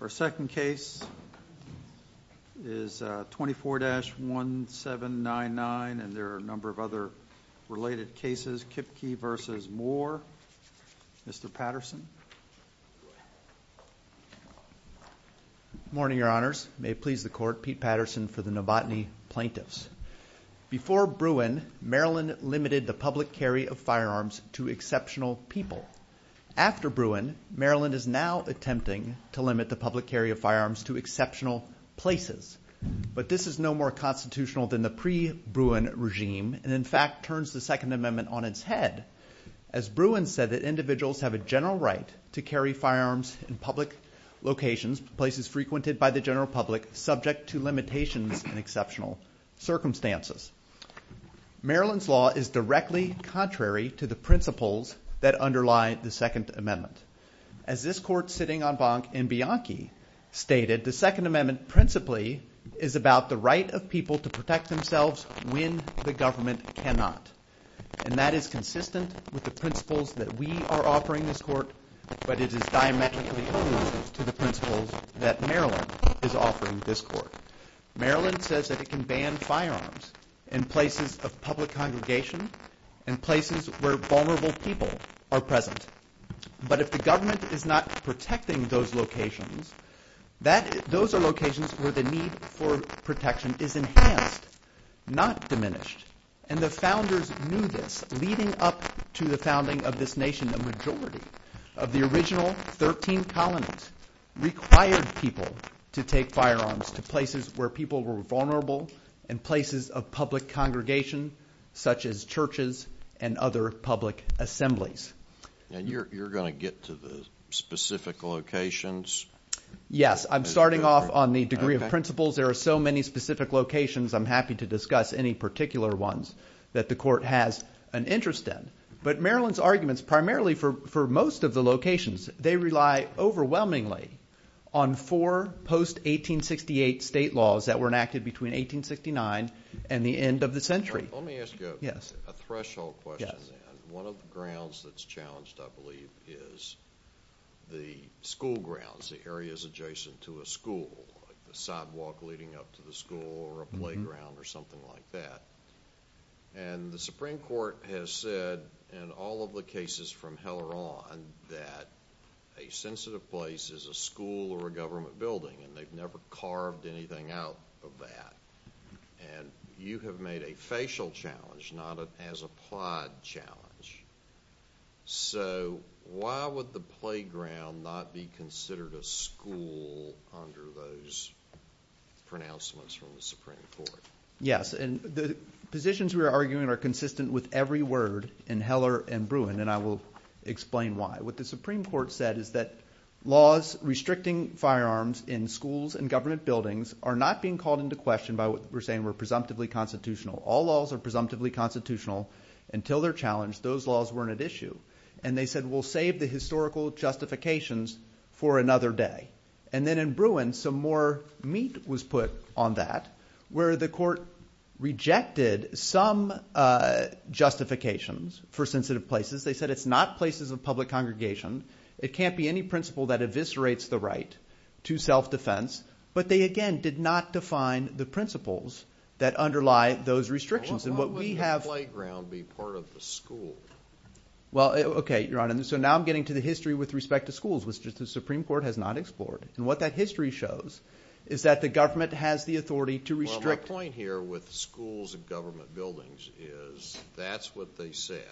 Our second case is 24-1799 and there are a number of other related cases, Kipke v. Moore. Mr. Patterson. Morning Your Honors. May it please the Court, Pete Patterson for the Novotny Plaintiffs. Before Bruin, Maryland limited the public carry of firearms to exceptional people. After Bruin, Maryland is now attempting to limit the public carry of firearms to exceptional places, but this is no more constitutional than the pre-Bruin regime and in fact turns the Second Amendment on its head, as Bruin said that individuals have a general right to carry firearms in public locations, places frequented by the general public, subject to limitations and exceptional circumstances. Maryland's law is directly contrary to the principles that underlie the Second Amendment. As this Court sitting on Bank in Bianchi stated, the Second Amendment principally is about the right of people to protect themselves when the government cannot, and that is consistent with the principles that we are offering this Court, but it is diametrically opposed to the principles that Maryland is offering this Court. Maryland says that it can ban firearms in places of public congregation, in places where vulnerable people are present, but if the government is not protecting those locations, those are locations where the need for protection is enhanced, not diminished, and the founders knew this leading up to the founding of this nation, the majority of the original 13 colonies required people to take firearms to places where people were vulnerable and places of public congregation such as churches and other public assemblies. And you're going to get to the specific locations? Yes, I'm starting off on the degree of principles. There are so many specific locations, I'm happy to discuss any particular ones that the Court has an interest in, but Maryland's arguments primarily for most of the locations, they rely overwhelmingly on four post-1868 state laws that were enacted between 1869 and the end of the century. Let me ask you a threshold question then. One of the grounds that's challenged, I believe, is the school grounds, the areas adjacent to a school, like the sidewalk leading up to the school or a playground or something like that. And the Supreme Court has said in all of the cases from hell or on that a sensitive place is a school or a government building, and they've never carved anything out of that. And you have made a facial challenge, not an as-applied challenge. So why would the playground not be considered a school under those pronouncements from the Supreme Court? Yes, and the positions we are arguing are consistent with every word in Heller and Bruin, and I will explain why. What the Supreme Court said is that laws restricting firearms in schools and government buildings are not being called into question by what we're saying were presumptively constitutional. All laws are presumptively constitutional until they're challenged. Those laws weren't at issue. And they said, we'll save the historical justifications for another day. And then in Bruin, some more meat was put on that, where the court rejected some justifications for sensitive places. They said it's not places of public congregation. It can't be any principle that eviscerates the right to self-defense. But they, again, did not define the principles that underlie those restrictions. And what we have- Why wouldn't the playground be part of the school? Well, OK, Your Honor. So now I'm getting to the history with respect to schools, which the Supreme Court has not explored. And what that history shows is that the government has the authority to restrict- Well, my point here with schools and government buildings is that's what they said.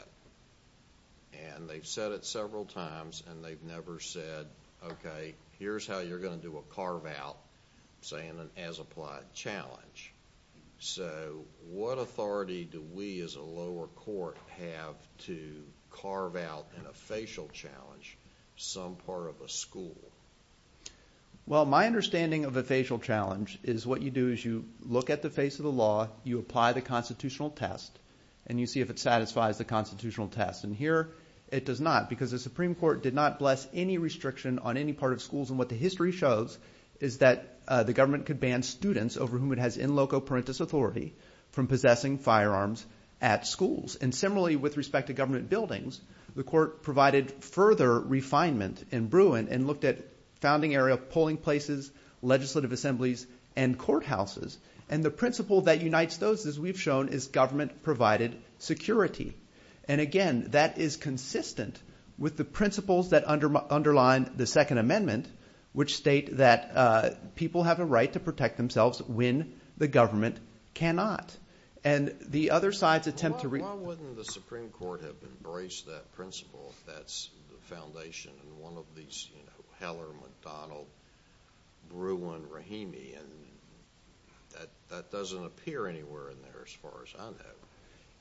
And they've said it several times, and they've never said, OK, here's how you're going to do a carve-out, say, in an as-applied challenge. So what authority do we as a lower court have to carve out in a facial challenge some part of a school? Well, my understanding of a facial challenge is what you do is you look at the face of the law, you apply the constitutional test, and you see if it satisfies the constitutional test. And here it does not, because the Supreme Court did not bless any restriction on any part of schools. And what the history shows is that the government could ban students over whom it has in loco parentis authority from possessing firearms at schools. And similarly, with respect to government buildings, the court provided further refinement in Bruin and looked at founding area polling places, legislative assemblies, and courthouses. And the principle that unites those, as we've shown, is government-provided security. And again, that is consistent with the principles that underline the Second Amendment, which state that people have a right to protect themselves when the government cannot. And the other side's attempt to- Why wouldn't the Supreme Court have embraced that principle if that's the foundation in one of these, you know, Heller, McDonald, Bruin, Rahimi? And that doesn't appear anywhere in there as far as I know.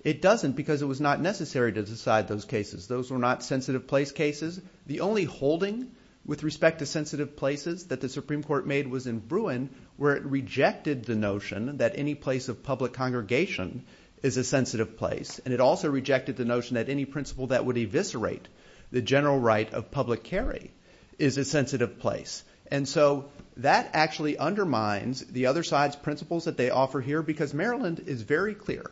It doesn't because it was not necessary to decide those cases. Those were not sensitive place cases. The only holding with respect to sensitive places that the Supreme Court made was in Bruin, where it rejected the notion that any place of public congregation is a sensitive place, and it also rejected the notion that any principle that would eviscerate the general right of public carry is a sensitive place. And so that actually undermines the other side's principles that they offer here because Maryland is very clear.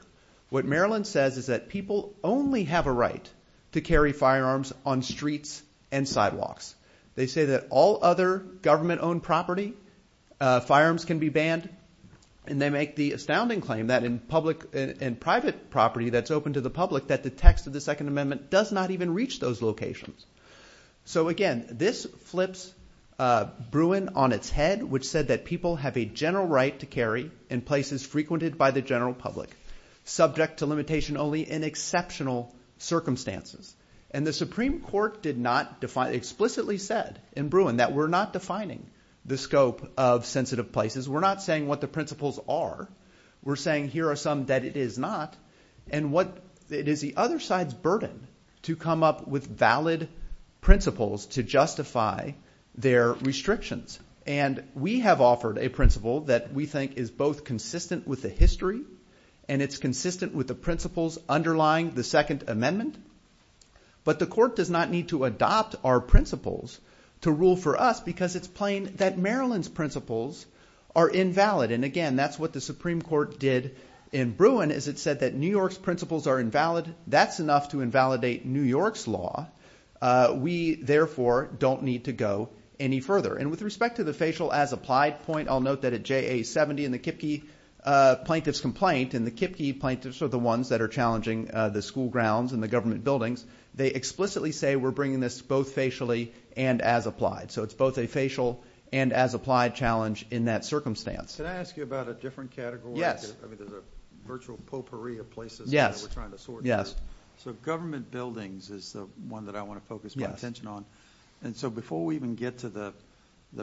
What Maryland says is that people only have a right to carry firearms on streets and sidewalks. They say that all other government-owned property, firearms can be banned. And they make the astounding claim that in public and private property that's open to the public that the text of the Second Amendment does not even reach those locations. So again, this flips Bruin on its head, which said that people have a general right to carry in places frequented by the general public, subject to limitation only in exceptional circumstances. And the Supreme Court did not define- explicitly said in Bruin that we're not defining the scope of sensitive places. We're not saying what the principles are. We're saying here are some that it is not. And what- it is the other side's burden to come up with valid principles to justify their restrictions. And we have offered a principle that we think is both consistent with the history and it's consistent with the principles underlying the Second Amendment. But the court does not need to adopt our principles to rule for us because it's plain that Maryland's principles are invalid. And again, that's what the Supreme Court did in Bruin is it said that New York's principles are invalid. That's enough to invalidate New York's law. We, therefore, don't need to go any further. And with respect to the facial as applied point, I'll note that at JA 70 in the Kipke plaintiff's complaint and the Kipke plaintiffs are the ones that are challenging the school grounds and the government buildings. They explicitly say we're bringing this both facially and as applied. So, it's both a facial and as applied challenge in that circumstance. Can I ask you about a different category? I mean, there's a virtual potpourri of places that we're trying to sort through. So, government buildings is the one that I want to focus my attention on. And so, before we even get to the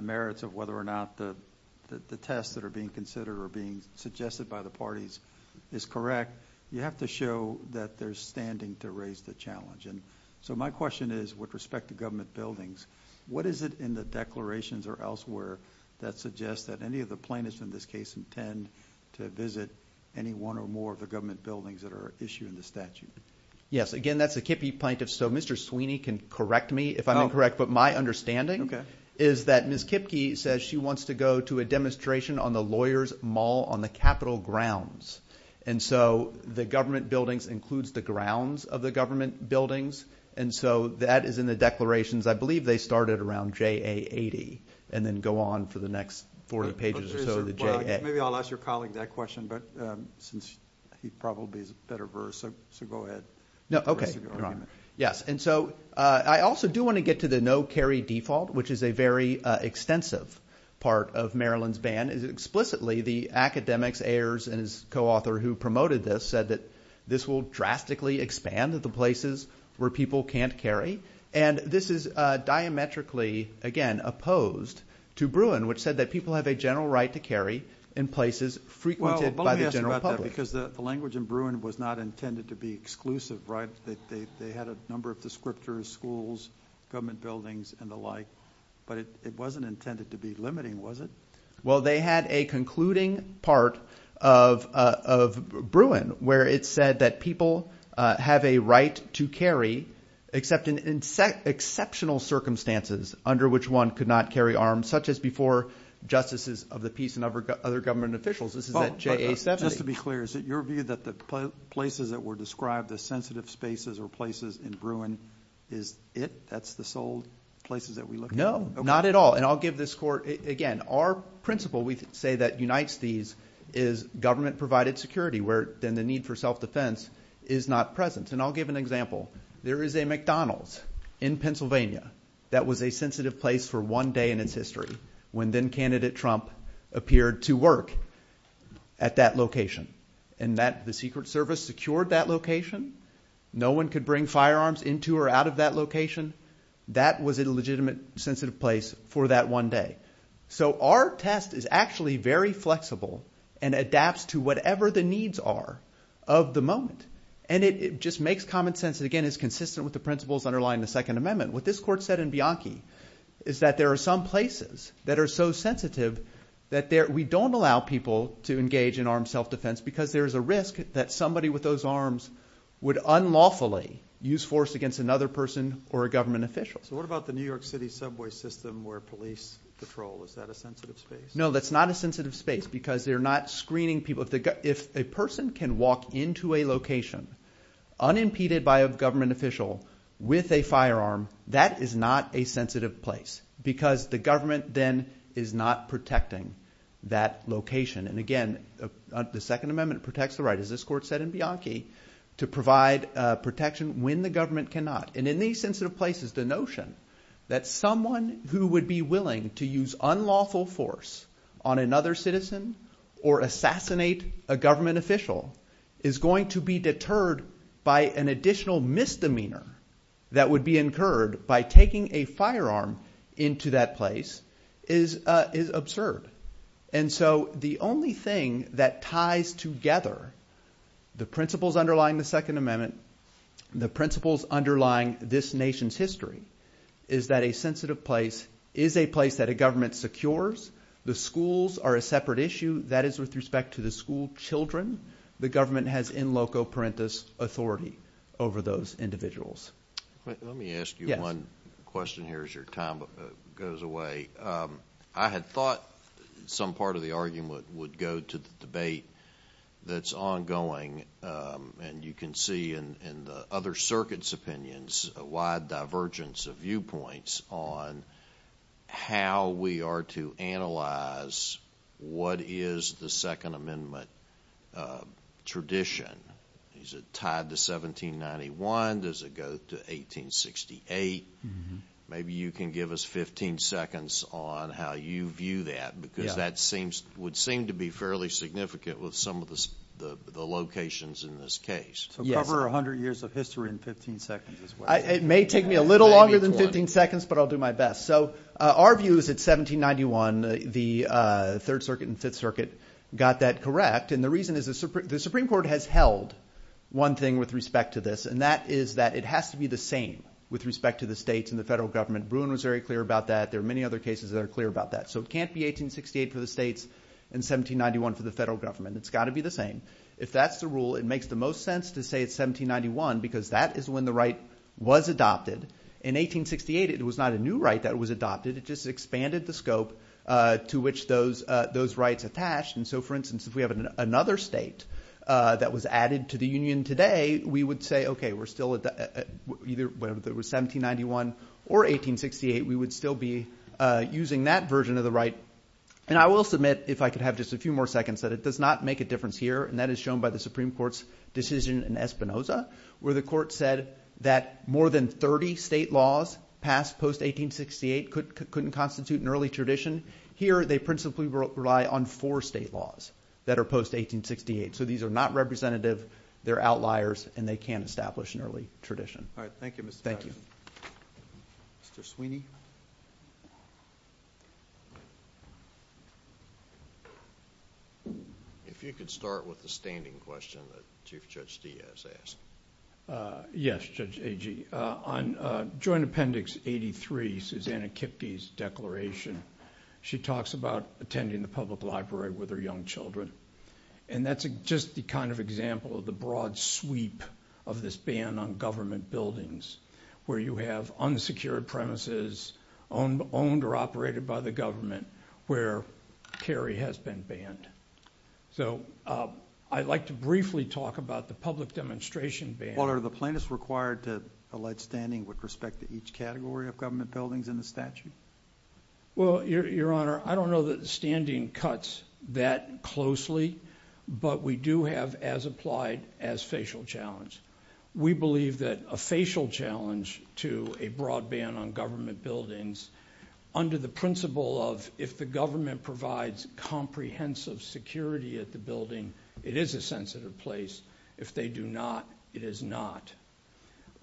merits of whether or not the tests that are being considered or being suggested by the parties is correct, you have to show that they're standing to raise the challenge. So, my question is with respect to government buildings, what is it in the declarations or elsewhere that suggests that any of the plaintiffs in this case intend to visit any one or more of the government buildings that are issued in the statute? Yes. Again, that's a Kipke plaintiff. So, Mr. Sweeney can correct me if I'm incorrect. But my understanding is that Ms. Kipke says she wants to go to a demonstration on the lawyers mall on the Capitol grounds. And so, the government buildings includes the grounds of the government buildings. And so, that is in the declarations. I believe they started around JA80 and then go on for the next 40 pages or so. Maybe I'll ask your colleague that question, but since he probably has a better verse. So, go ahead. No. Okay. Yes. And so, I also do want to get to the no carry default, which is a very extensive part of Maryland's ban. Explicitly, the academics, Ayers and his co-author who promoted this said that this will drastically expand the places where people can't carry. And this is diametrically, again, opposed to Bruin, which said that people have a general right to carry in places frequented by the general public. Well, but let me ask you about that because the language in Bruin was not intended to be exclusive, right? They had a number of descriptors, schools, government buildings, and the like. But it wasn't intended to be limiting, was it? Well, they had a concluding part of Bruin where it said that people have a right to carry except in exceptional circumstances under which one could not carry arms, such as before justices of the peace and other government officials. This is at JA70. Just to be clear, is it your view that the places that were described as sensitive spaces or places in Bruin is it? That's the sole places that we look at? No, not at all. Again, our principle, we say that unites these is government-provided security where then the need for self-defense is not present. And I'll give an example. There is a McDonald's in Pennsylvania that was a sensitive place for one day in its history when then-candidate Trump appeared to work at that location. And the Secret Service secured that location. No one could bring firearms into or out of that location. That was a legitimate sensitive place for that one day. So our test is actually very flexible and adapts to whatever the needs are of the moment. And it just makes common sense. And again, it's consistent with the principles underlying the Second Amendment. What this court said in Bianchi is that there are some places that are so sensitive that we don't allow people to engage in armed self-defense because there is a risk that somebody with those arms would unlawfully use force against another person or a government official. So what about the New York City subway system where police patrol? Is that a sensitive space? No, that's not a sensitive space because they're not screening people. If a person can walk into a location unimpeded by a government official with a firearm, that is not a sensitive place because the government then is not protecting that location. And again, the Second Amendment protects the right. As this court said in Bianchi, to provide protection when the government cannot. And in these sensitive places, the notion that someone who would be willing to use unlawful force on another citizen or assassinate a government official is going to be deterred by an additional misdemeanor that would be incurred by taking a firearm into that place is absurd. And so the only thing that ties together the principles underlying the Second Amendment, the principles underlying this nation's history, is that a sensitive place is a place that a government secures. The schools are a separate issue. That is with respect to the school children. The government has in loco parentis authority over those individuals. Let me ask you one question here as your time goes away. I had thought some part of the argument would go to the debate that's ongoing and you can see in the other circuits' opinions a wide divergence of viewpoints on how we are to analyze what is the Second Amendment tradition. Is it tied to 1791? Does it go to 1868? Maybe you can give us 15 seconds on how you view that because that would seem to be fairly significant with some of the locations in this case. So cover 100 years of history in 15 seconds as well. It may take me a little longer than 15 seconds, but I'll do my best. So our view is that 1791, the Third Circuit and Fifth Circuit got that correct. And the reason is the Supreme Court has held one thing with respect to this, and that is it has to be the same with respect to the states and the federal government. Bruin was very clear about that. There are many other cases that are clear about that. So it can't be 1868 for the states and 1791 for the federal government. It's got to be the same. If that's the rule, it makes the most sense to say it's 1791 because that is when the right was adopted. In 1868, it was not a new right that was adopted. It just expanded the scope to which those rights attached. And so, for instance, if we have another state that was added to the union today, we would say, OK, we're still at either 1791 or 1868. We would still be using that version of the right. And I will submit, if I could have just a few more seconds, that it does not make a difference here. And that is shown by the Supreme Court's decision in Espinoza, where the court said that more than 30 state laws passed post-1868 couldn't constitute an early tradition. Here, they principally rely on four state laws that are post-1868. So, these are not representative, they're outliers, and they can't establish an early tradition. All right. Thank you, Mr. Judge. Thank you. Mr. Sweeney? If you could start with the standing question that Chief Judge Diaz asked. Yes, Judge Agee. On Joint Appendix 83, Susanna Kipke's declaration, she talks about attending the public library with her young children. And that's just the kind of example of the broad sweep of this ban on government buildings, where you have unsecured premises owned or operated by the government, where carry has been banned. So I'd like to briefly talk about the public demonstration ban. Well, are the plaintiffs required to allege standing with respect to each category of government buildings in the statute? Well, Your Honor, I don't know that the standing cuts that closely, but we do have as-applied as-facial challenge. We believe that a facial challenge to a broad ban on government buildings under the principle of if the government provides comprehensive security at the building, it is a sensitive place. If they do not, it is not.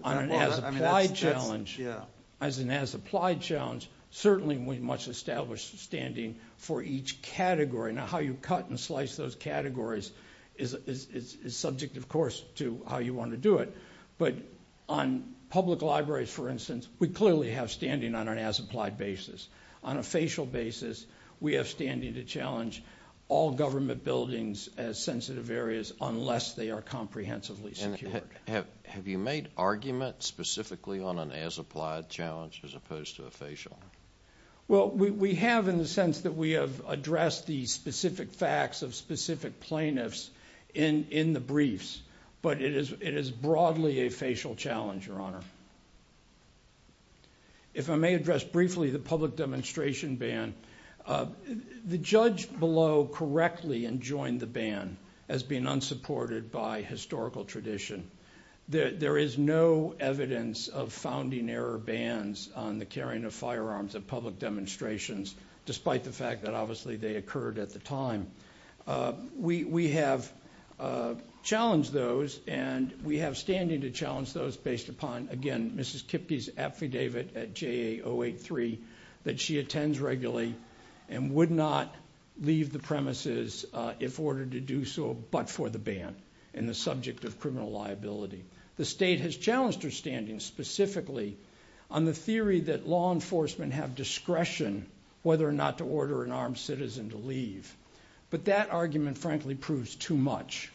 On an as-applied challenge, as an as-applied challenge, certainly we must establish standing for each category. Now, how you cut and slice those categories is subject, of course, to how you want to do it. But on public libraries, for instance, we clearly have standing on an as-applied basis. On a facial basis, we have standing to challenge all government buildings as sensitive areas unless they are comprehensively secured. Have you made arguments specifically on an as-applied challenge as opposed to a facial? Well, we have in the sense that we have addressed the specific facts of specific plaintiffs in the briefs, but it is broadly a facial challenge, Your Honor. If I may address briefly the public demonstration ban, the judge below correctly enjoined the ban as being unsupported by historical tradition. There is no evidence of founding error bans on the carrying of firearms at public demonstrations, despite the fact that obviously they occurred at the time. We have challenged those and we have standing to challenge those based upon, again, Mrs. Kipke's affidavit at JA 083 that she attends regularly and would not leave the premises if ordered to do so but for the ban and the subject of criminal liability. The state has challenged her standing specifically on the theory that law enforcement have discretion whether or not to order an armed citizen to leave. But that argument frankly proves too much.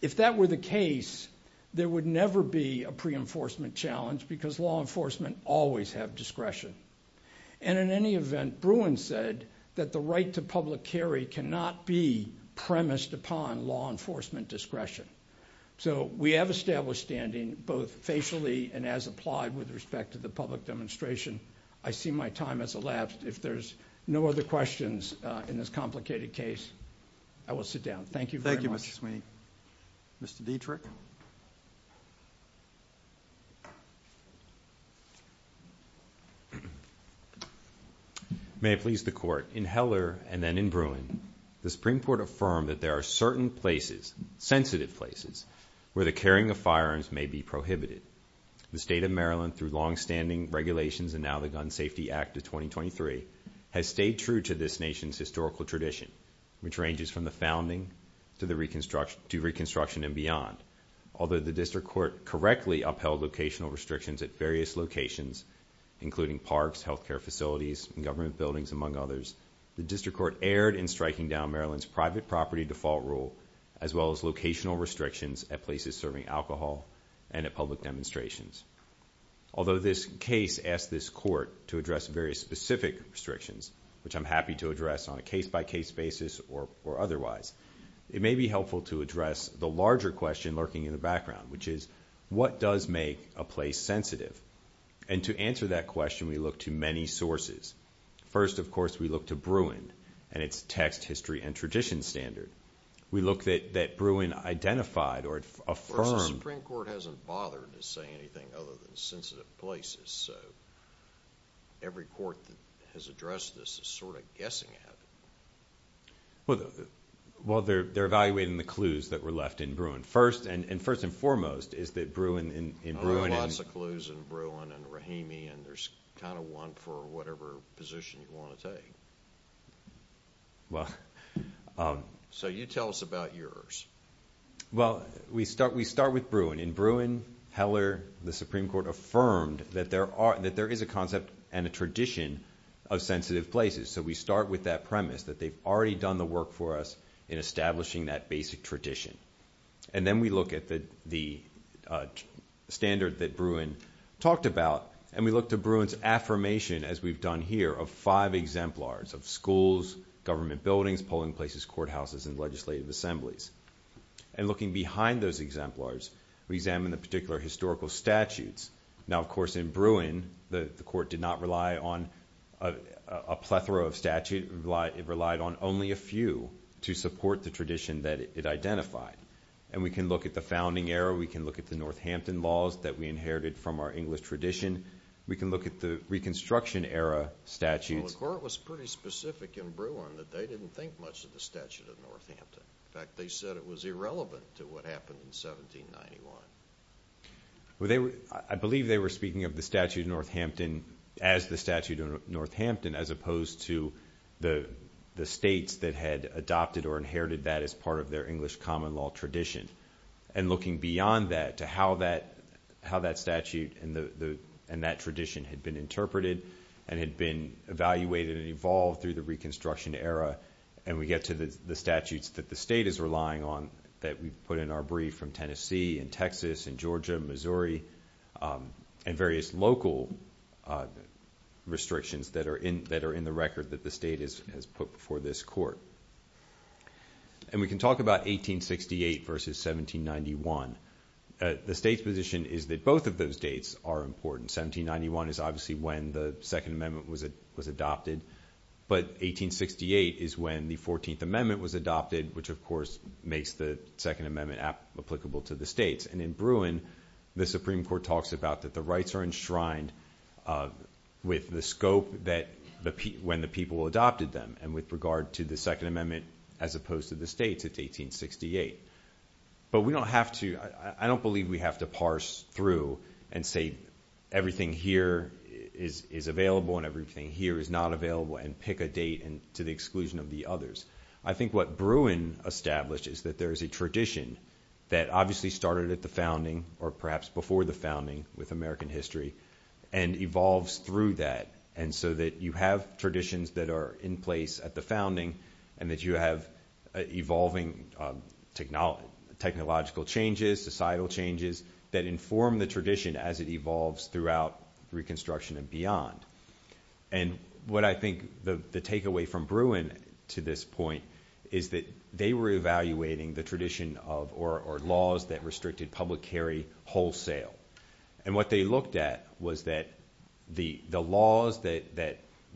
If that were the case, there would never be a pre-enforcement challenge because law enforcement always have discretion. In any event, Bruin said that the right to public carry cannot be premised upon law enforcement discretion. We have established standing both facially and as applied with respect to the public demonstration. I see my time has elapsed. If there's no other questions in this complicated case, I will sit down. Thank you very much. Thank you, Mr. Sweeney. Mr. Dietrich? May I please the court? In Heller and then in Bruin, the Supreme Court affirmed that there are certain places, sensitive places, where the carrying of firearms may be prohibited. The state of Maryland through longstanding regulations and now the Gun Safety Act of 2023 has stayed true to this nation's historical tradition, which ranges from the founding to reconstruction and beyond. Although the district court correctly upheld locational restrictions at various locations, including parks, healthcare facilities, government buildings, among others, the district court erred in striking down Maryland's private property default rule as well as locational restrictions at places serving alcohol and at public demonstrations. Although this case asked this court to address very specific restrictions, which I'm happy to address on a case-by-case basis or otherwise, it may be helpful to address the larger question lurking in the background, which is what does make a place sensitive? To answer that question, we looked to many sources. First, of course, we looked to Bruin and its text, history, and tradition standard. We looked at that Bruin identified or affirmed... The Supreme Court hasn't bothered to say anything other than sensitive places. So, every court that has addressed this is sort of guessing at it. Well, they're evaluating the clues that were left in Bruin first, and first and foremost is that Bruin... There are lots of clues in Bruin and Rahimi, and there's kind of one for whatever position you want to take. So you tell us about yours. Well, we start with Bruin. In Bruin, Heller, the Supreme Court affirmed that there is a concept and a tradition of sensitive places. So we start with that premise that they've already done the work for us in establishing that basic tradition. And then we look at the standard that Bruin talked about, and we look to Bruin's affirmation, as we've done here, of five exemplars of schools, government buildings, polling places, courthouses, and legislative assemblies. And looking behind those exemplars, we examine the particular historical statutes. Now, of course, in Bruin, the court did not rely on a plethora of statute. It relied on only a few to support the tradition that it identified. And we can look at the founding era. We can look at the Northampton laws that we inherited from our English tradition. We can look at the Reconstruction era statutes. Well, the court was pretty specific in Bruin that they didn't think much of the statute of Northampton. In fact, they said it was irrelevant to what happened in 1791. I believe they were speaking of the statute of Northampton as the statute of Northampton as opposed to the states that had adopted or inherited that as part of their English common law tradition. And looking beyond that to how that statute and that tradition had been interpreted and had been evaluated and evolved through the Reconstruction era. And we get to the statutes that the state is relying on that we put in our brief from Tennessee and Texas and Georgia, Missouri, and various local restrictions that are in the record that the state has put before this court. And we can talk about 1868 versus 1791. The state's position is that both of those dates are important. 1791 is obviously when the Second Amendment was adopted. But 1868 is when the Fourteenth Amendment was adopted, which of course makes the Second Amendment applicable to the states. And in Bruin, the Supreme Court talks about that the rights are enshrined with the scope that when the people adopted them. And with regard to the Second Amendment as opposed to the states, it's 1868. But we don't have to, I don't believe we have to parse through and say everything here is available and everything here is not available and pick a date and to the exclusion of the others. I think what Bruin establishes that there is a tradition that obviously started at the founding or perhaps before the founding with American history and evolves through that. And so that you have traditions that are in place at the founding and that you have evolving technological changes, societal changes that inform the tradition as it evolves throughout reconstruction and beyond. And what I think the takeaway from Bruin to this point is that they were evaluating the tradition of or laws that restricted public carry wholesale. And what they looked at was that the laws that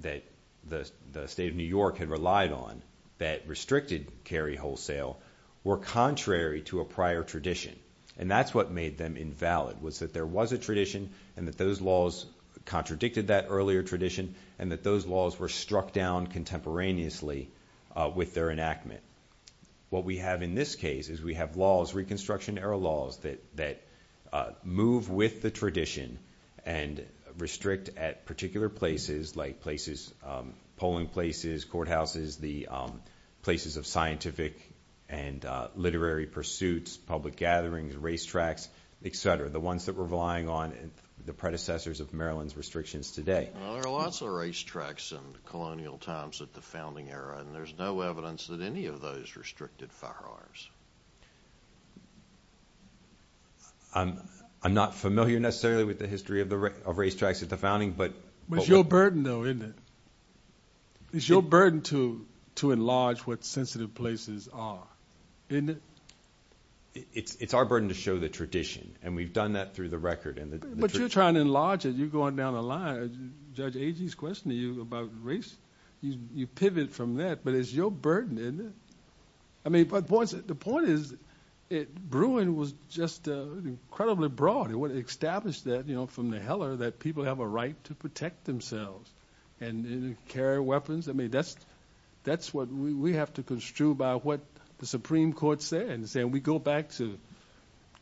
the state of New York had relied on that restricted carry wholesale were contrary to a prior tradition. And that's what made them invalid was that there was a tradition and that those laws contradicted that earlier tradition and that those laws were struck down contemporaneously with their enactment. What we have in this case is we have laws, Reconstruction Era laws that move with the tradition and restrict at particular places like places, polling places, courthouses, the places of scientific and literary pursuits, public gatherings, racetracks, etc. The ones that were relying on the predecessors of Maryland's restrictions today. There are lots of racetracks and colonial times at the founding era and there's no evidence that any of those restricted firearms. I'm not familiar necessarily with the history of racetracks at the founding. But it's your burden though, isn't it? It's your burden to enlarge what sensitive places are, isn't it? It's our burden to show the tradition and we've done that through the record. But you're trying to enlarge it. You're going down a line. Judge Agee's questioning you about race. You pivot from that. But it's your burden, isn't it? I mean, but the point is, Bruin was just incredibly broad. It would establish that, you know, from the heller that people have a right to protect themselves and carry weapons. I mean, that's what we have to construe by what the Supreme Court said and say, we go back to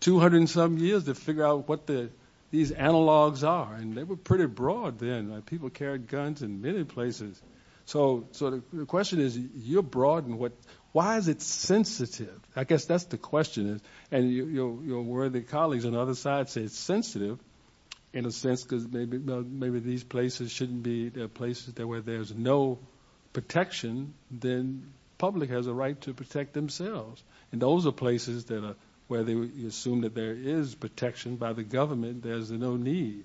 200 and some years to figure out what the, these analogs are. And they were pretty broad then. People carried guns in many places. So, so the question is, you're broad and what, why is it sensitive? I guess that's the question. And your worthy colleagues on the other side say it's sensitive in a sense, because maybe, maybe these places shouldn't be places that where there's no protection, then public has a right to protect themselves. And those are places that are where they assume that there is protection by the government. There's no need.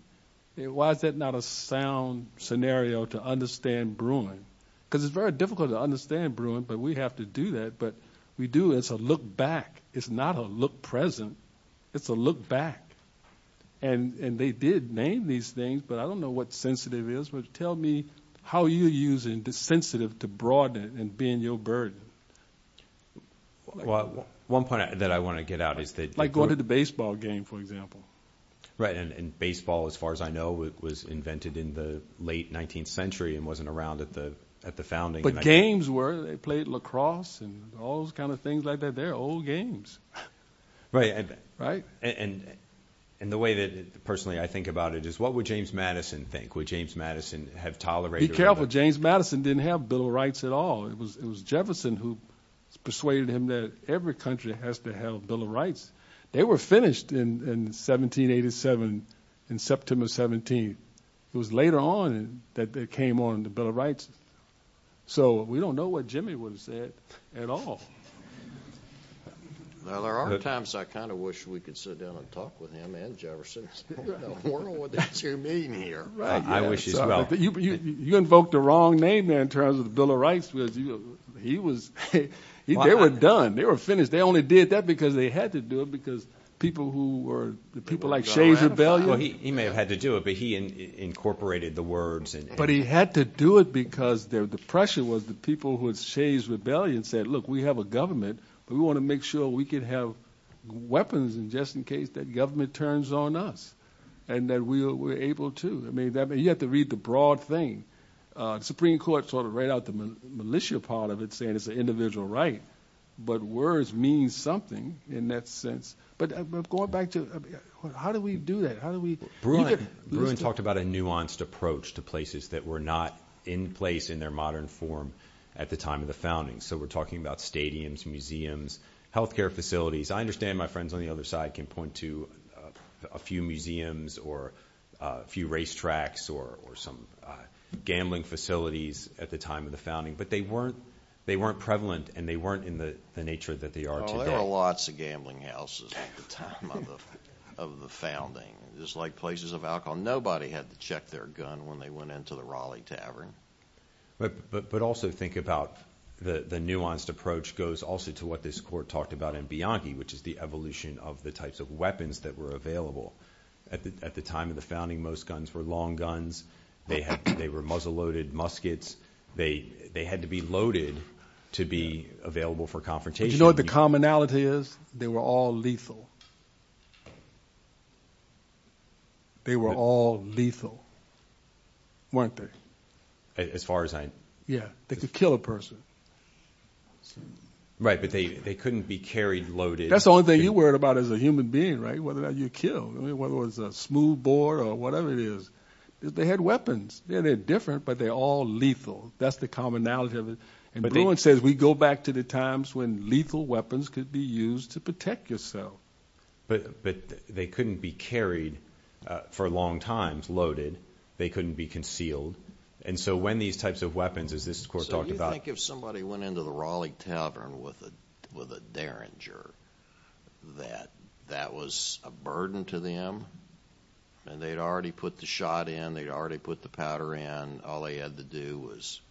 Why is that not a sound scenario to understand Bruin? Because it's very difficult to understand Bruin, but we have to do that. But we do as a look back. It's not a look present. It's a look back. And they did name these things, but I don't know what sensitive is, but tell me how you're using the sensitive to broaden it and being your burden. Well, one point that I want to get out is that like going to the baseball game, for example. Right. And baseball, as far as I know, it was invented in the late 19th century and wasn't around at the, at the founding. But games where they played lacrosse and all those kinds of things like that. They're old games. Right. Right. And, and the way that personally, I think about it is what would James Madison think? Would James Madison have tolerated- Be careful. James Madison didn't have Bill of Rights at all. It was, it was Jefferson who persuaded him that every country has to have Bill of Rights. They were finished in, in 1787 in September 17th. It was later on that they came on the Bill of Rights. So we don't know what Jimmy would have said at all. Now there are times I kind of wish we could sit down and talk with him and Jefferson. I don't know what the two mean here. I wish as well. You, you, you invoked the wrong name there in terms of the Bill of Rights was he was, they were done. They were finished. They only did that because they had to do it because people who were the people like Shays' Rebellion- Well, he, he may have had to do it, but he incorporated the words and- But he had to do it because the pressure was the people who had Shays' Rebellion said, look, we have a government, we want to make sure we can have weapons and just in case that government turns on us and that we were able to, I mean, you have to read the broad thing. The Supreme Court sort of read out the militia part of it saying it's an individual right, but words mean something in that sense. But going back to, how do we do that? How do we- Bruin talked about a nuanced approach to places that were not in place in their modern form at the time of the founding. So we're talking about stadiums, museums, healthcare facilities. I understand my friends on the other side can point to a few museums or a few racetracks or, or some gambling facilities at the time of the founding, but they weren't, they weren't prevalent and they weren't in the nature that they are today. Oh, there were lots of gambling houses at the time of the, of the founding. Just like places of alcohol. Nobody had to check their gun when they went into the Raleigh Tavern. But, but, but also think about the, the nuanced approach goes also to what this court talked about in Bianchi, which is the evolution of the types of weapons that were available at the, at the time of the founding. Most guns were long guns. They had, they were muzzle loaded muskets. They had to be loaded to be available for confrontation. You know what the commonality is? They were all lethal. They were all lethal, weren't they? As far as I, yeah, they could kill a person. Right. But they, they couldn't be carried loaded. That's the only thing you worried about as a human being, right? Whether or not you kill, I mean, whether it was a smooth board or whatever it is, they had weapons. Yeah, they're different, but they're all lethal. That's the commonality of it. And Bruins says we go back to the times when lethal weapons could be used to protect yourself. But, but they couldn't be carried for long times loaded. They couldn't be concealed. And so when these types of weapons, as this court talked about. So you think if somebody went into the Raleigh Tavern with a, with a Derringer that that was a burden to them and they'd already put the shot in, they'd already put the powder in. All they had to do was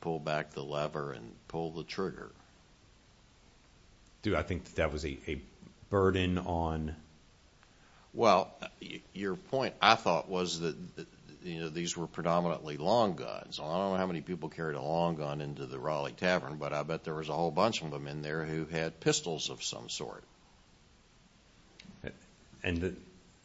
pull back the lever and pull the trigger. Dude, I think that that was a burden on. Well, your point I thought was that, you know, these were predominantly long guns. I don't know how many people carried a long gun into the Raleigh Tavern, but I bet there was a whole bunch of them in there who had pistols of some sort. And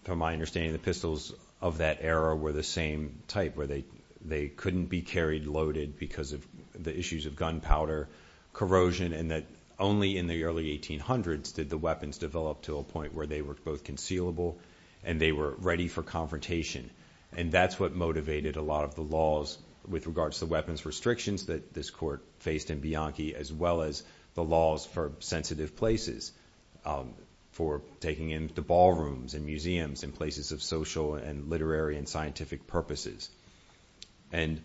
from my understanding, the pistols of that era were the same type where they, they couldn't be carried loaded because of the issues of gunpowder corrosion. And that only in the early 1800s did the weapons develop to a point where they were both concealable and they were ready for confrontation. And that's what motivated a lot of the laws with regards to the weapons restrictions that this court faced in Bianchi, as well as the laws for sensitive places for taking into ballrooms and museums and places of social and literary and scientific purposes. And,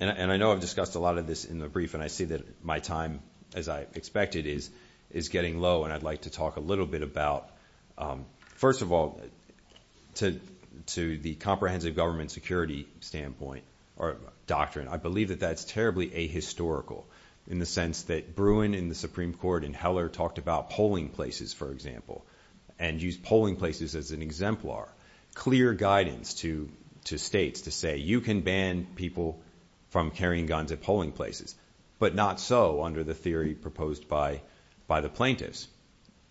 and I know I've discussed a lot of this in the brief, and I see that my time as I expected is, is getting low. And I'd like to talk a little bit about first of all, to, to the comprehensive government security standpoint or doctrine, I believe that that's terribly ahistorical in the sense that Bruin in the Supreme court and Heller talked about polling places, for example, and use polling places as an exemplar, clear guidance to, to States to say, you can ban people from carrying guns at polling places, but not so under the theory proposed by, by the plaintiffs.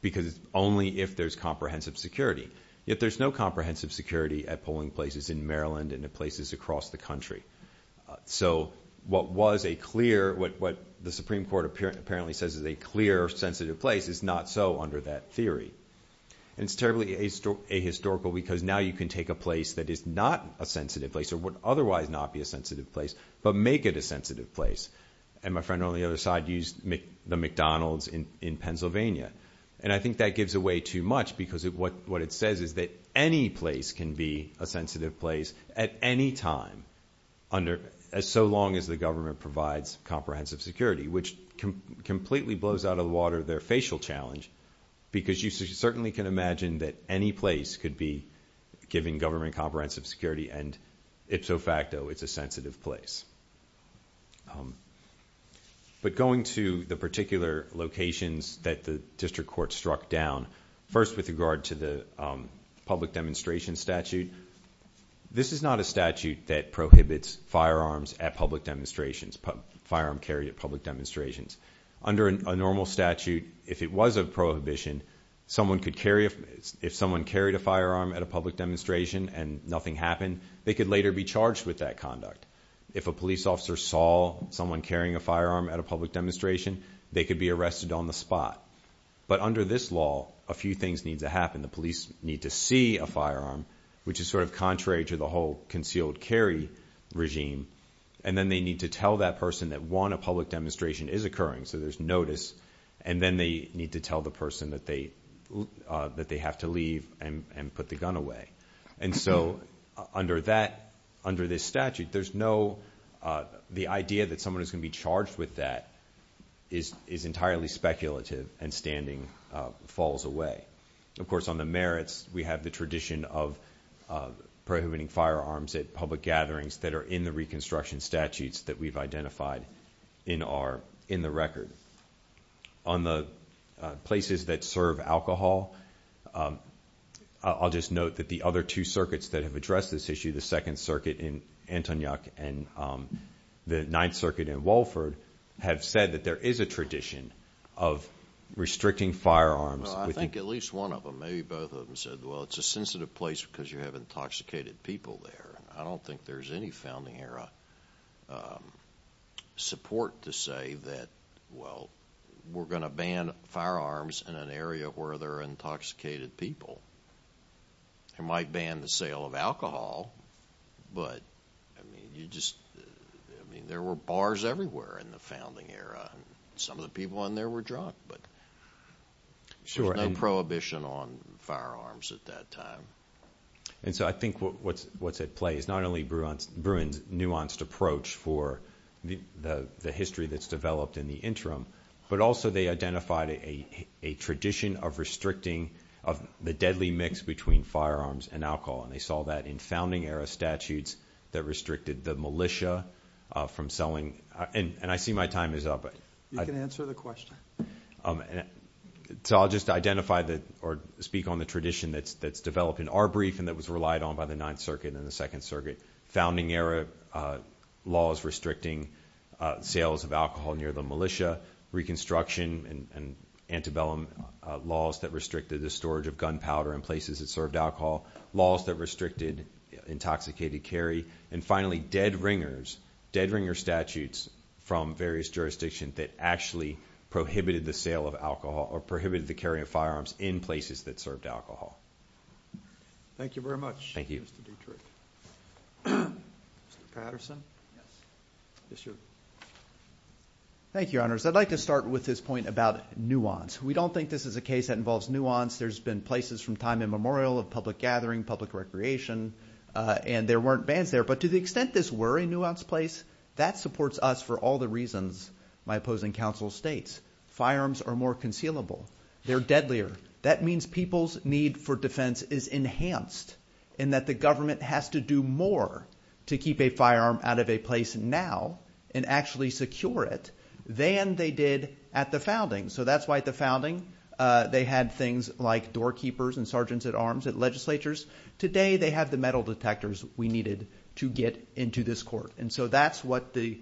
Because only if there's comprehensive security, if there's no comprehensive security at polling places in Maryland and the places across the country. So what was a clear, what the Supreme court apparently says is a clear sensitive place is not so under that theory. And it's terribly ahistorical because now you can take a place that is not a sensitive place or would otherwise not be a sensitive place, but make it a sensitive place. And my friend on the other side used the McDonald's in Pennsylvania. And I think that gives away too much because of what, what it says is that any place can be a sensitive place at any time under as so long as the government provides comprehensive security, which can completely blows out of the water, their facial challenge, because you certainly can imagine that any place could be given government comprehensive security. And it's so facto, it's a sensitive place. But going to the particular locations that the district court struck down first with regard to the public demonstration statute, this is not a statute that prohibits firearms at public demonstrations, firearm carried at public demonstrations under a normal statute. If it was a prohibition, someone could carry it. If someone carried a firearm at a public demonstration and nothing happened, they could later be charged with that conduct. If a police officer saw someone carrying a firearm at a public demonstration, they could be arrested on the spot. But under this law, a few things need to happen. The police need to see a firearm, which is sort of contrary to the whole concealed carry regime. And then they need to tell that person that one, a public demonstration is occurring. So there's notice. And then they need to tell the person that they, uh, that they have to leave and put the gun away. And so under that, under this statute, there's no, uh, the idea that someone is going to be charged with that is, is entirely speculative and standing, uh, falls away. Of course, on the merits, we have the tradition of, uh, prohibiting firearms at public gatherings that are in the reconstruction statutes that we've identified in our, in the record on the, uh, places that serve alcohol. Um, I'll just note that the other two circuits that have addressed this issue, the second circuit in Antonia and, um, the ninth circuit in Walford have said that there is a tradition of restricting firearms. I think at least one of them, maybe both of them said, well, it's a sensitive place because you have intoxicated people there. I don't think there's any founding era, um, support to say that, well, we're going to ban firearms in an area where there are intoxicated people and might ban the sale of alcohol. But I mean, you just, I mean, there were bars everywhere in the founding era. Some of the people on there were drunk, but there's no prohibition on firearms at that time. And so I think what's, what's at play is not only Bruins, Bruins nuanced approach for the, the history that's developed in the interim, but also they identified a, a tradition of restricting, of the deadly mix between firearms and alcohol. And they saw that in founding era statutes that restricted the militia, uh, from selling. And, and I see my time is up, but I can answer the question. So I'll just identify the, or speak on the tradition that's, that's developed in our brief. And that was relied on by the ninth circuit and the second circuit founding era, uh, laws restricting, uh, sales of alcohol near the militia reconstruction and, and antebellum laws that restricted the storage of gunpowder in places that served alcohol laws that restricted intoxicated carry. And finally dead ringers dead ringer statutes from various jurisdictions that actually prohibited the sale of alcohol or prohibited the carry of firearms in places that served alcohol. Thank you very much. Thank you. Mr. Patterson. Yes, sir. Thank you, your honors. I'd like to start with this point about nuance. We don't think this is a case that involves nuance. There's been places from time immemorial of public gathering, public recreation, uh, and there weren't bands there, but to the extent this were a nuanced place that supports us for all the reasons my opposing council States firearms are more concealable. They're deadlier. That means people's need for defense is enhanced in that the government has to do more to keep a firearm out of a place now and actually secure it than they did at the founding. So that's why at the founding, uh, they had things like doorkeepers and sergeants at arms at legislatures. Today, they have the metal detectors we needed to get into this court. And so that's what the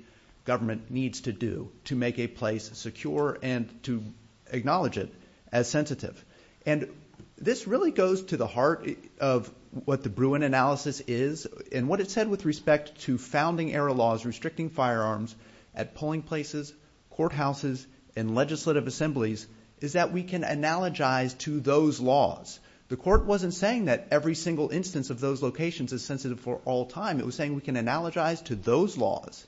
government needs to do to make a place secure and to acknowledge it as sensitive. And this really goes to the heart of what the Bruin analysis is and what it said with respect to founding era laws, restricting firearms at polling places, courthouses and legislative assemblies is that we can analogize to those laws. The court wasn't saying that every single instance of those locations is sensitive for all time. It was saying we can analogize to those laws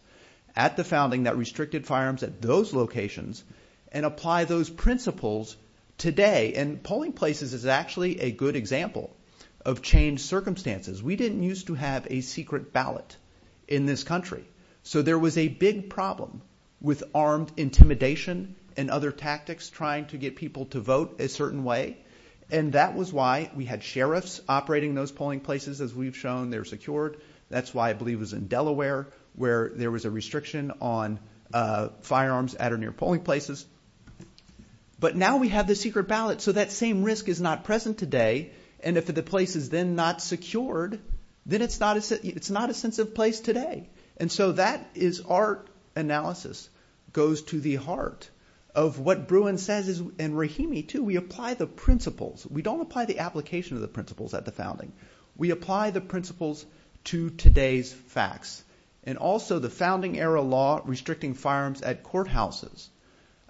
at the founding that restricted firearms at those locations and apply those principles today. And polling places is actually a good example of changed circumstances. We didn't use to have a secret ballot in this country. So there was a big problem with armed intimidation and other tactics trying to get people to vote a certain way. And that was why we had sheriffs operating those polling places as we've shown they're secured. That's why I believe it was in Delaware where there was a restriction on, uh, firearms at or near polling places. But now we have the secret ballot. So that same risk is not present today. And if the place is then not secured, then it's not, it's not a sensitive place today. And so that is, our analysis goes to the heart of what Bruin says is, and Rahimi too, we apply the principles. We don't apply the application of the principles at the founding. We apply the principles to today's facts and also the founding era law restricting firearms at courthouses.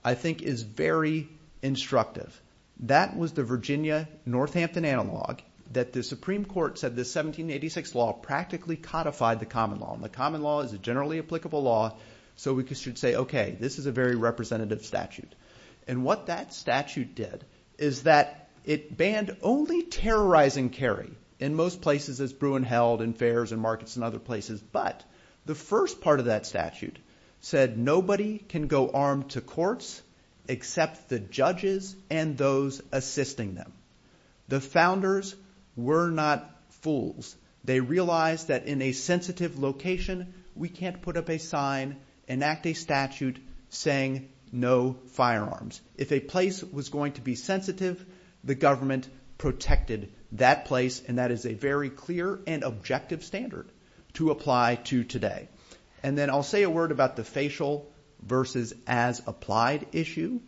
I think is very instructive. That was the Virginia Northampton analog that the Supreme Court said this 1786 law practically codified the common law and the common law is a generally applicable law. So we should say, okay, this is a very representative statute. And what that statute did is that it banned only terrorizing carry in most places as Bruin held in fairs and markets and other places. But the first part of that statute said nobody can go armed to courts except the judges and those assisting them. The founders were not fools. They realized that in a sensitive location, we can't put up a sign, enact a statute saying no firearms. If a place was going to be sensitive, the government protected that place. And that is a very clear and objective standard to apply to today. And then I'll say a word about the facial versus as applied issue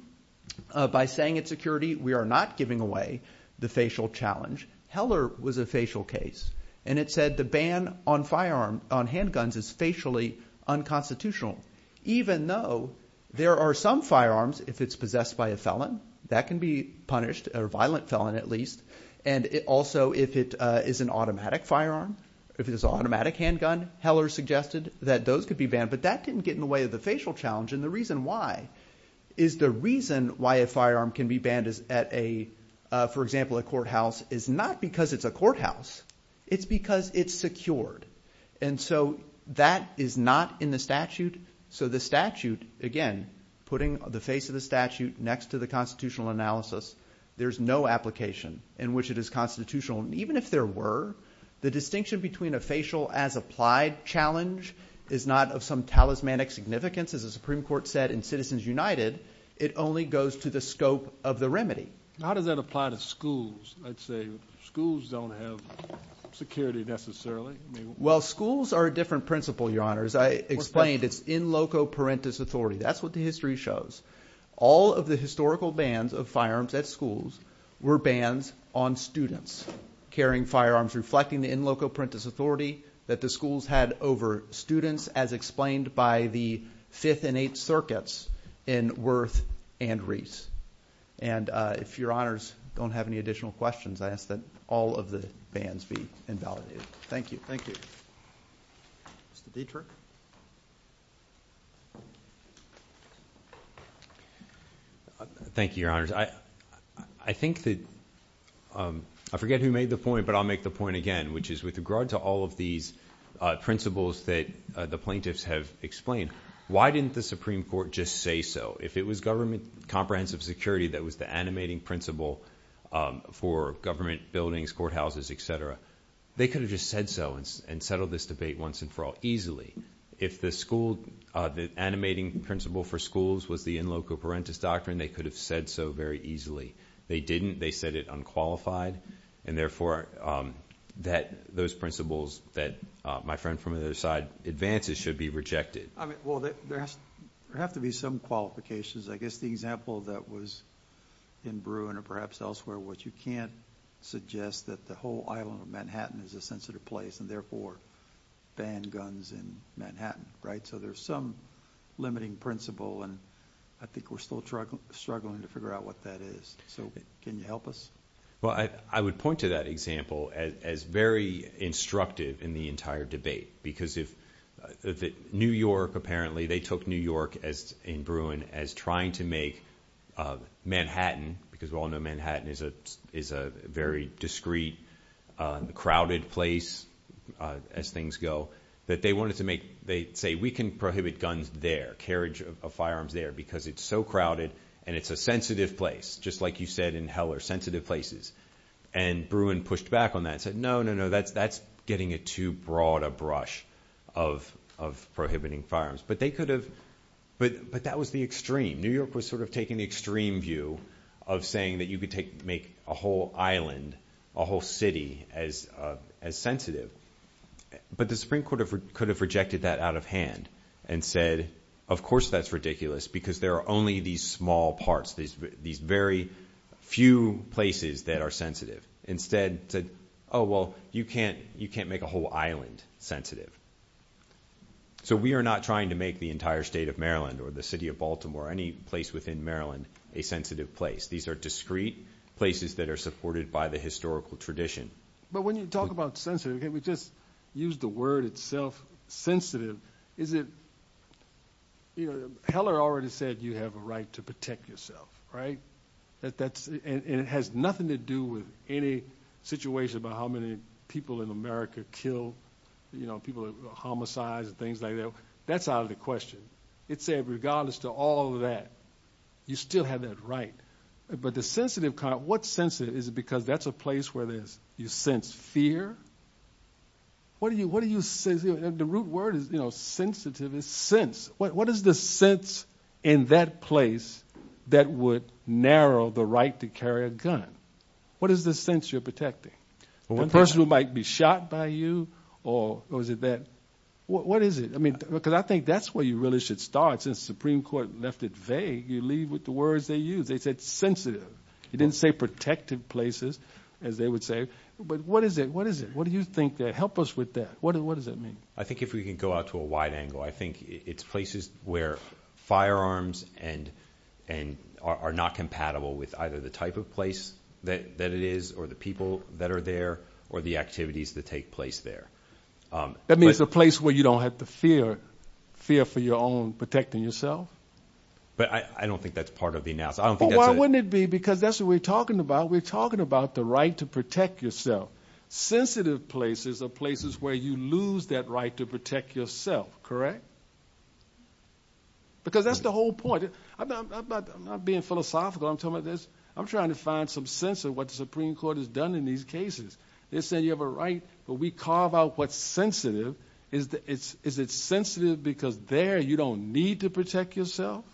by saying it's security. We are not giving away the facial challenge. Heller was a facial case and it said the ban on firearm on handguns is facially unconstitutional, even though there are some firearms, if it's possessed by a felon that can be punished or violent felon at least. And it also, if it is an automatic firearm, if it is automatic handgun, Heller suggested that those could be banned, but that didn't get in the way of the facial challenge. And the reason why is the reason why a firearm can be banned is at a, for example, a courthouse is not because it's a courthouse. It's because it's secured. And so that is not in the statute. So the statute, again, putting the face of the statute next to the constitutional analysis, there's no application in which it is constitutional. And even if there were the distinction between a facial as applied challenge is not of some talismanic significance as a Supreme court said in citizens United, it only goes to the scope of the remedy. How does that apply to schools? I'd say schools don't have security necessarily. Well, schools are a different principle. Your honors. I explained it's in loco parentis authority. That's what the history shows. All of the historical bands of firearms at schools were bans on students carrying firearms, reflecting the in loco parentis authority that the schools had over students as explained by the fifth and eight circuits in worth and Reese. And uh, if your honors don't have any additional questions, I ask that all of the bands be invalidated. Thank you. Thank you. Mr. Dietrich. Uh, thank you, your honors. I, I think that, um, I forget who made the point, but I'll make the point again, which is with regard to all of these, uh, principles that the plaintiffs have explained, why didn't the Supreme court just say so if it was government comprehensive security, that was the animating principle, um, for government buildings, courthouses, et cetera. They could have just said so and S and settled this debate once and for all easily. If the school, uh, animating principle for schools was the in loco parentis doctrine, they could have said so very easily. They didn't, they said it unqualified. And therefore, um, that those principles that, uh, my friend from the other side advances should be rejected. I mean, well, there has to be some qualifications. I guess the example that was in Bruin or perhaps elsewhere, what you can't suggest that the whole island of Manhattan is a sensitive place and therefore ban guns in Manhattan, right? So there's some limiting principle and I think we're still struggling, struggling to figure out what that is. So can you help us? Well, I, I would point to that example as, as very instructive in the entire debate, because if, uh, the New York, apparently they took New York as in Bruin, as trying to make, uh, Manhattan, because we all know Manhattan is a, is a very discreet, uh, crowded place, uh, as things go that they wanted to make, they say we can prohibit guns, their carriage of firearms there because it's so crowded and it's a sensitive place. Just like you said, in hell are sensitive places. And Bruin pushed back on that and said, no, no, no, that's, that's getting a too broad a brush of, of prohibiting firearms. But they could have, but, but that was the extreme. New York was sort of taking the extreme view of saying that you could take, make a whole island, a whole city as, uh, as sensitive. But the Supreme court could have rejected that out of hand and said, of course that's ridiculous because there are only these small parts, these, these very few places that are sensitive instead said, Oh, well, you can't, you can't make a whole island sensitive. So we are not trying to make the entire state of Maryland or the city of Baltimore, any place within Maryland, a sensitive place. These are discreet places that are supported by the historical tradition. But when you talk about sensitive, can we just use the word itself? Sensitive? Is it, you know, Heller already said you have a right to protect yourself, right? That that's, and it has nothing to do with any situation about how many people in America kill, you know, people are homicides and things like that. That's out of the question. It said, regardless to all of that, you still have that right. But the sensitive kind of what sensitive is it? Because that's a place where there's, you sense fear. What do you, what do you say? The root word is, you know, sensitive is sense. What is the sense in that place that would narrow the right to carry a gun? What is the sense you're protecting? The person who might be shot by you or was it that, what is it? I mean, because I think that's where you really should start. Since Supreme Court left it vague, you leave with the words they use. They said sensitive. You didn't say protective places as they would say, but what is it? What is it? What do you think that help us with that? What does, what does that mean? I think if we can go out to a wide angle, I think it's places where firearms and, and are not compatible with either the type of place that it is or the people that are there or the activities that take place there. That means a place where you don't have to fear fear for your own protecting yourself. But I don't think that's part of the NASA. I don't think that's why wouldn't it be? Because that's what we're talking about. We're talking about the right to protect yourself. Sensitive places are places where you lose that right to protect yourself. Correct? Because that's the whole point. I'm not, I'm not, I'm not being philosophical. I'm talking about this. I'm trying to find some sense of what the Supreme Court has done in these cases. They're saying you have a right, but we carve out what's sensitive. Is the, is it sensitive because there you don't need to protect yourself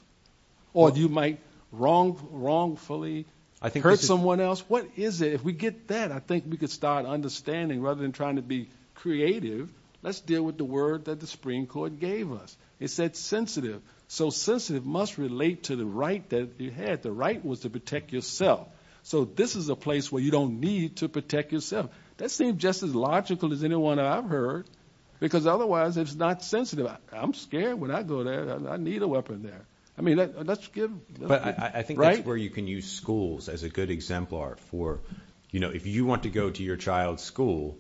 or do you might wrong wrongfully? I think hurt someone else. What is it? If we get that, I think we could start understanding rather than trying to be creative. Let's deal with the word that the Supreme Court gave us. It said sensitive. So sensitive must relate to the right that you had. The right was to protect yourself. So this is a place where you don't need to protect yourself. That seemed just as logical as anyone I've heard because otherwise it's not sensitive. I'm scared when I go there, I need a weapon there. I mean, let's give, but I think that's where you can use schools as a good exemplar for, you know, if you want to go to your child's school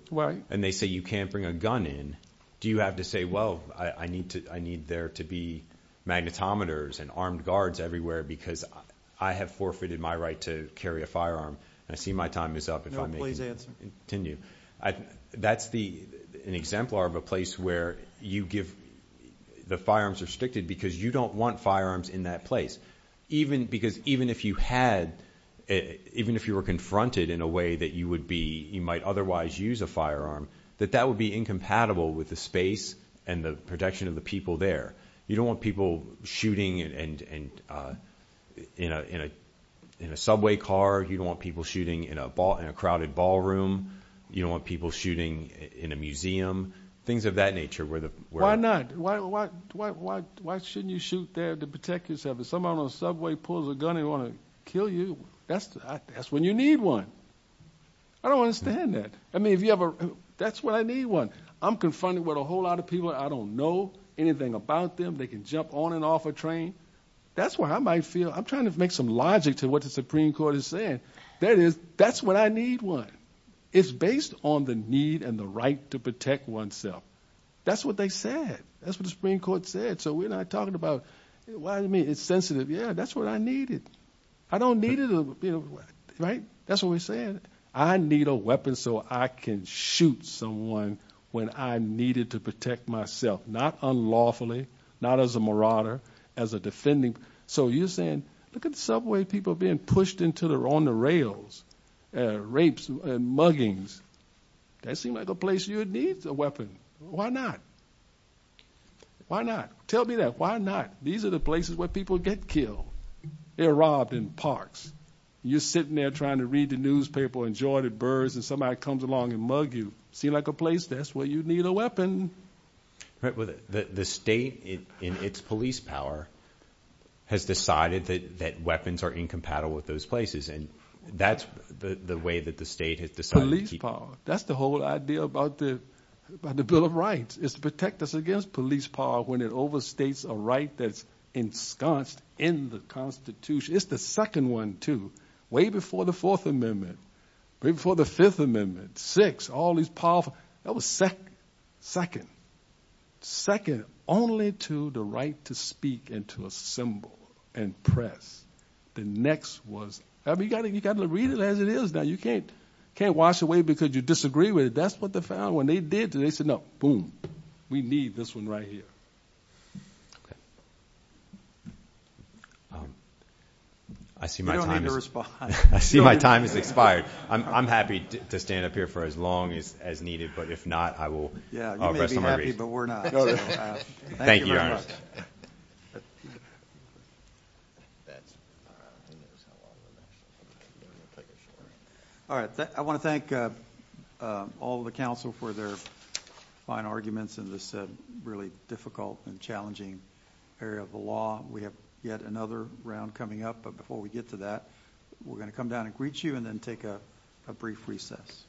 and they say you can't bring a gun in, do you have to say, well, I need to, I need there to be magnetometers and armed guards everywhere because I have forfeited my right to carry a firearm and I see my time is up. No, please answer. That's the, an exemplar of a place where you give the firearms restricted because you don't want firearms in that place. Even because even if you had, even if you were confronted in a way that you would be, you might otherwise use a firearm, that that would be incompatible with the space and the protection of the people there. You don't want people shooting and, and, uh, you know, in a, in a subway car, you don't want people shooting in a ball, in a crowded ballroom. You don't want people shooting in a museum, things of that nature where the, why not? Why, why, why, why, why shouldn't you shoot there to protect yourself? If someone on the subway pulls a gun and want to kill you, that's, that's when you need one. I don't understand that. I mean, if you ever, that's what I need one. I'm confronted with a whole lot of people. I don't know anything about them. They can jump on and off a train. That's what I might feel. I'm trying to make some logic to what the Supreme Court is saying. That is, that's what I need. One is based on the need and the right to protect oneself. That's what they said. That's what the Supreme Court said. So we're not talking about why, I mean, it's sensitive. Yeah, that's what I needed. I don't need it. Right. That's what we're saying. I need a weapon so I can shoot someone when I needed to protect myself, not unlawfully, not as a marauder, as a defending. So you're saying, look at the subway people being pushed into the, on the rails, uh, rapes and muggings. That seemed like a place you would need a weapon. Why not? Why not? Tell me that. Why not? These are the places where people get killed. They're robbed in parks. You're sitting there trying to read the newspaper and enjoy the birds. And somebody comes along and mug you seem like a place. That's where you need a weapon, right? The state in its police power has decided that, that weapons are incompatible with those places. And that's the way that the state has decided to keep. That's the whole idea about the, about the bill of rights is to protect us against police power. When it overstates a right, that's ensconced in the constitution. It's the second one too, way before the fourth amendment, before the fifth amendment, six, all these powerful, that was second, second, second, only to the right to speak and to assemble and press. The next was, I mean, you gotta, you gotta read it as it is. Now you can't, can't wash away because you disagree with it. That's what the found when they did today, said, no, boom, we need this one right here. I see my time. I see my time has expired. I'm happy to stand up here for as long as, as needed, but if not, I will, but we're not. Thank you. All right. I want to thank, uh, uh, all of the council for their fine arguments in this really difficult and challenging area of the law. We have yet another round coming up, but before we get to that, we're going to come down and greet you and then take a brief recess.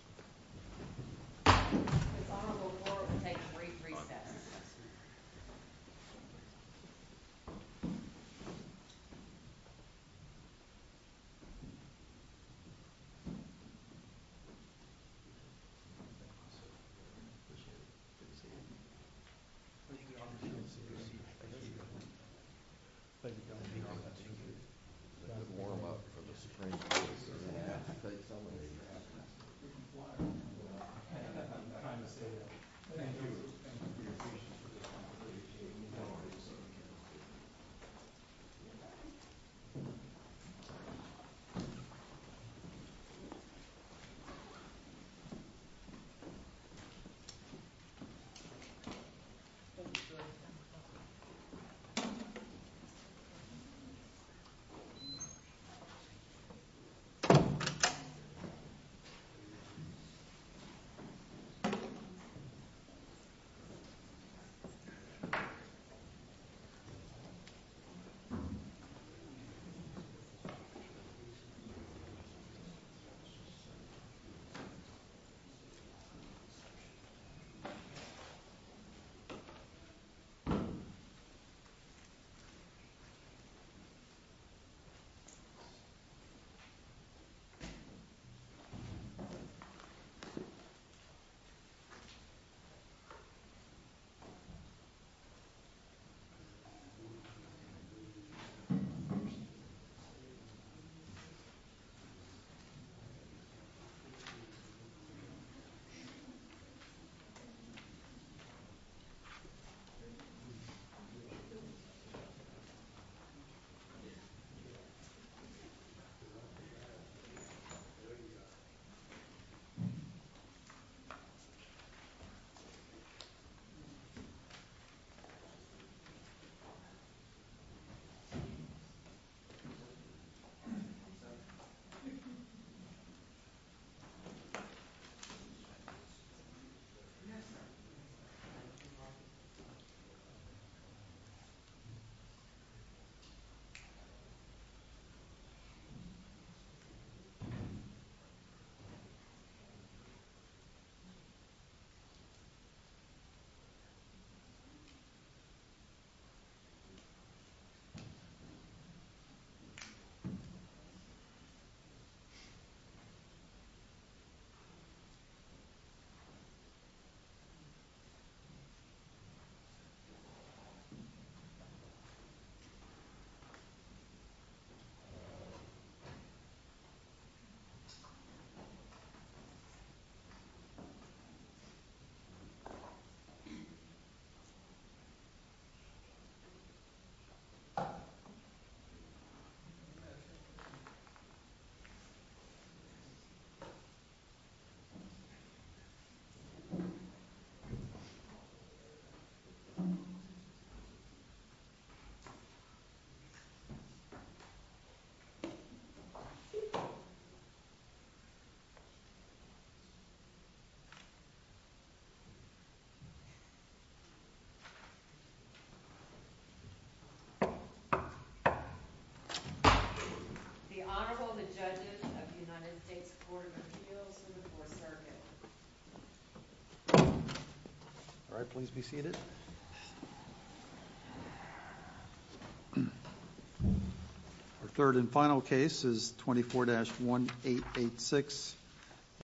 Great research. Thank you. Thank you. Thank you. Warm up for the Supreme Court, sir. I'm trying to say that. Thank you. Thank you. Thank you. Thank you. Thank you. Thank you. Thank you. The Honorable, the judges of the United States Court of Appeals in the Fourth Circuit. All right, please be seated. Our third and final case is 24-1886.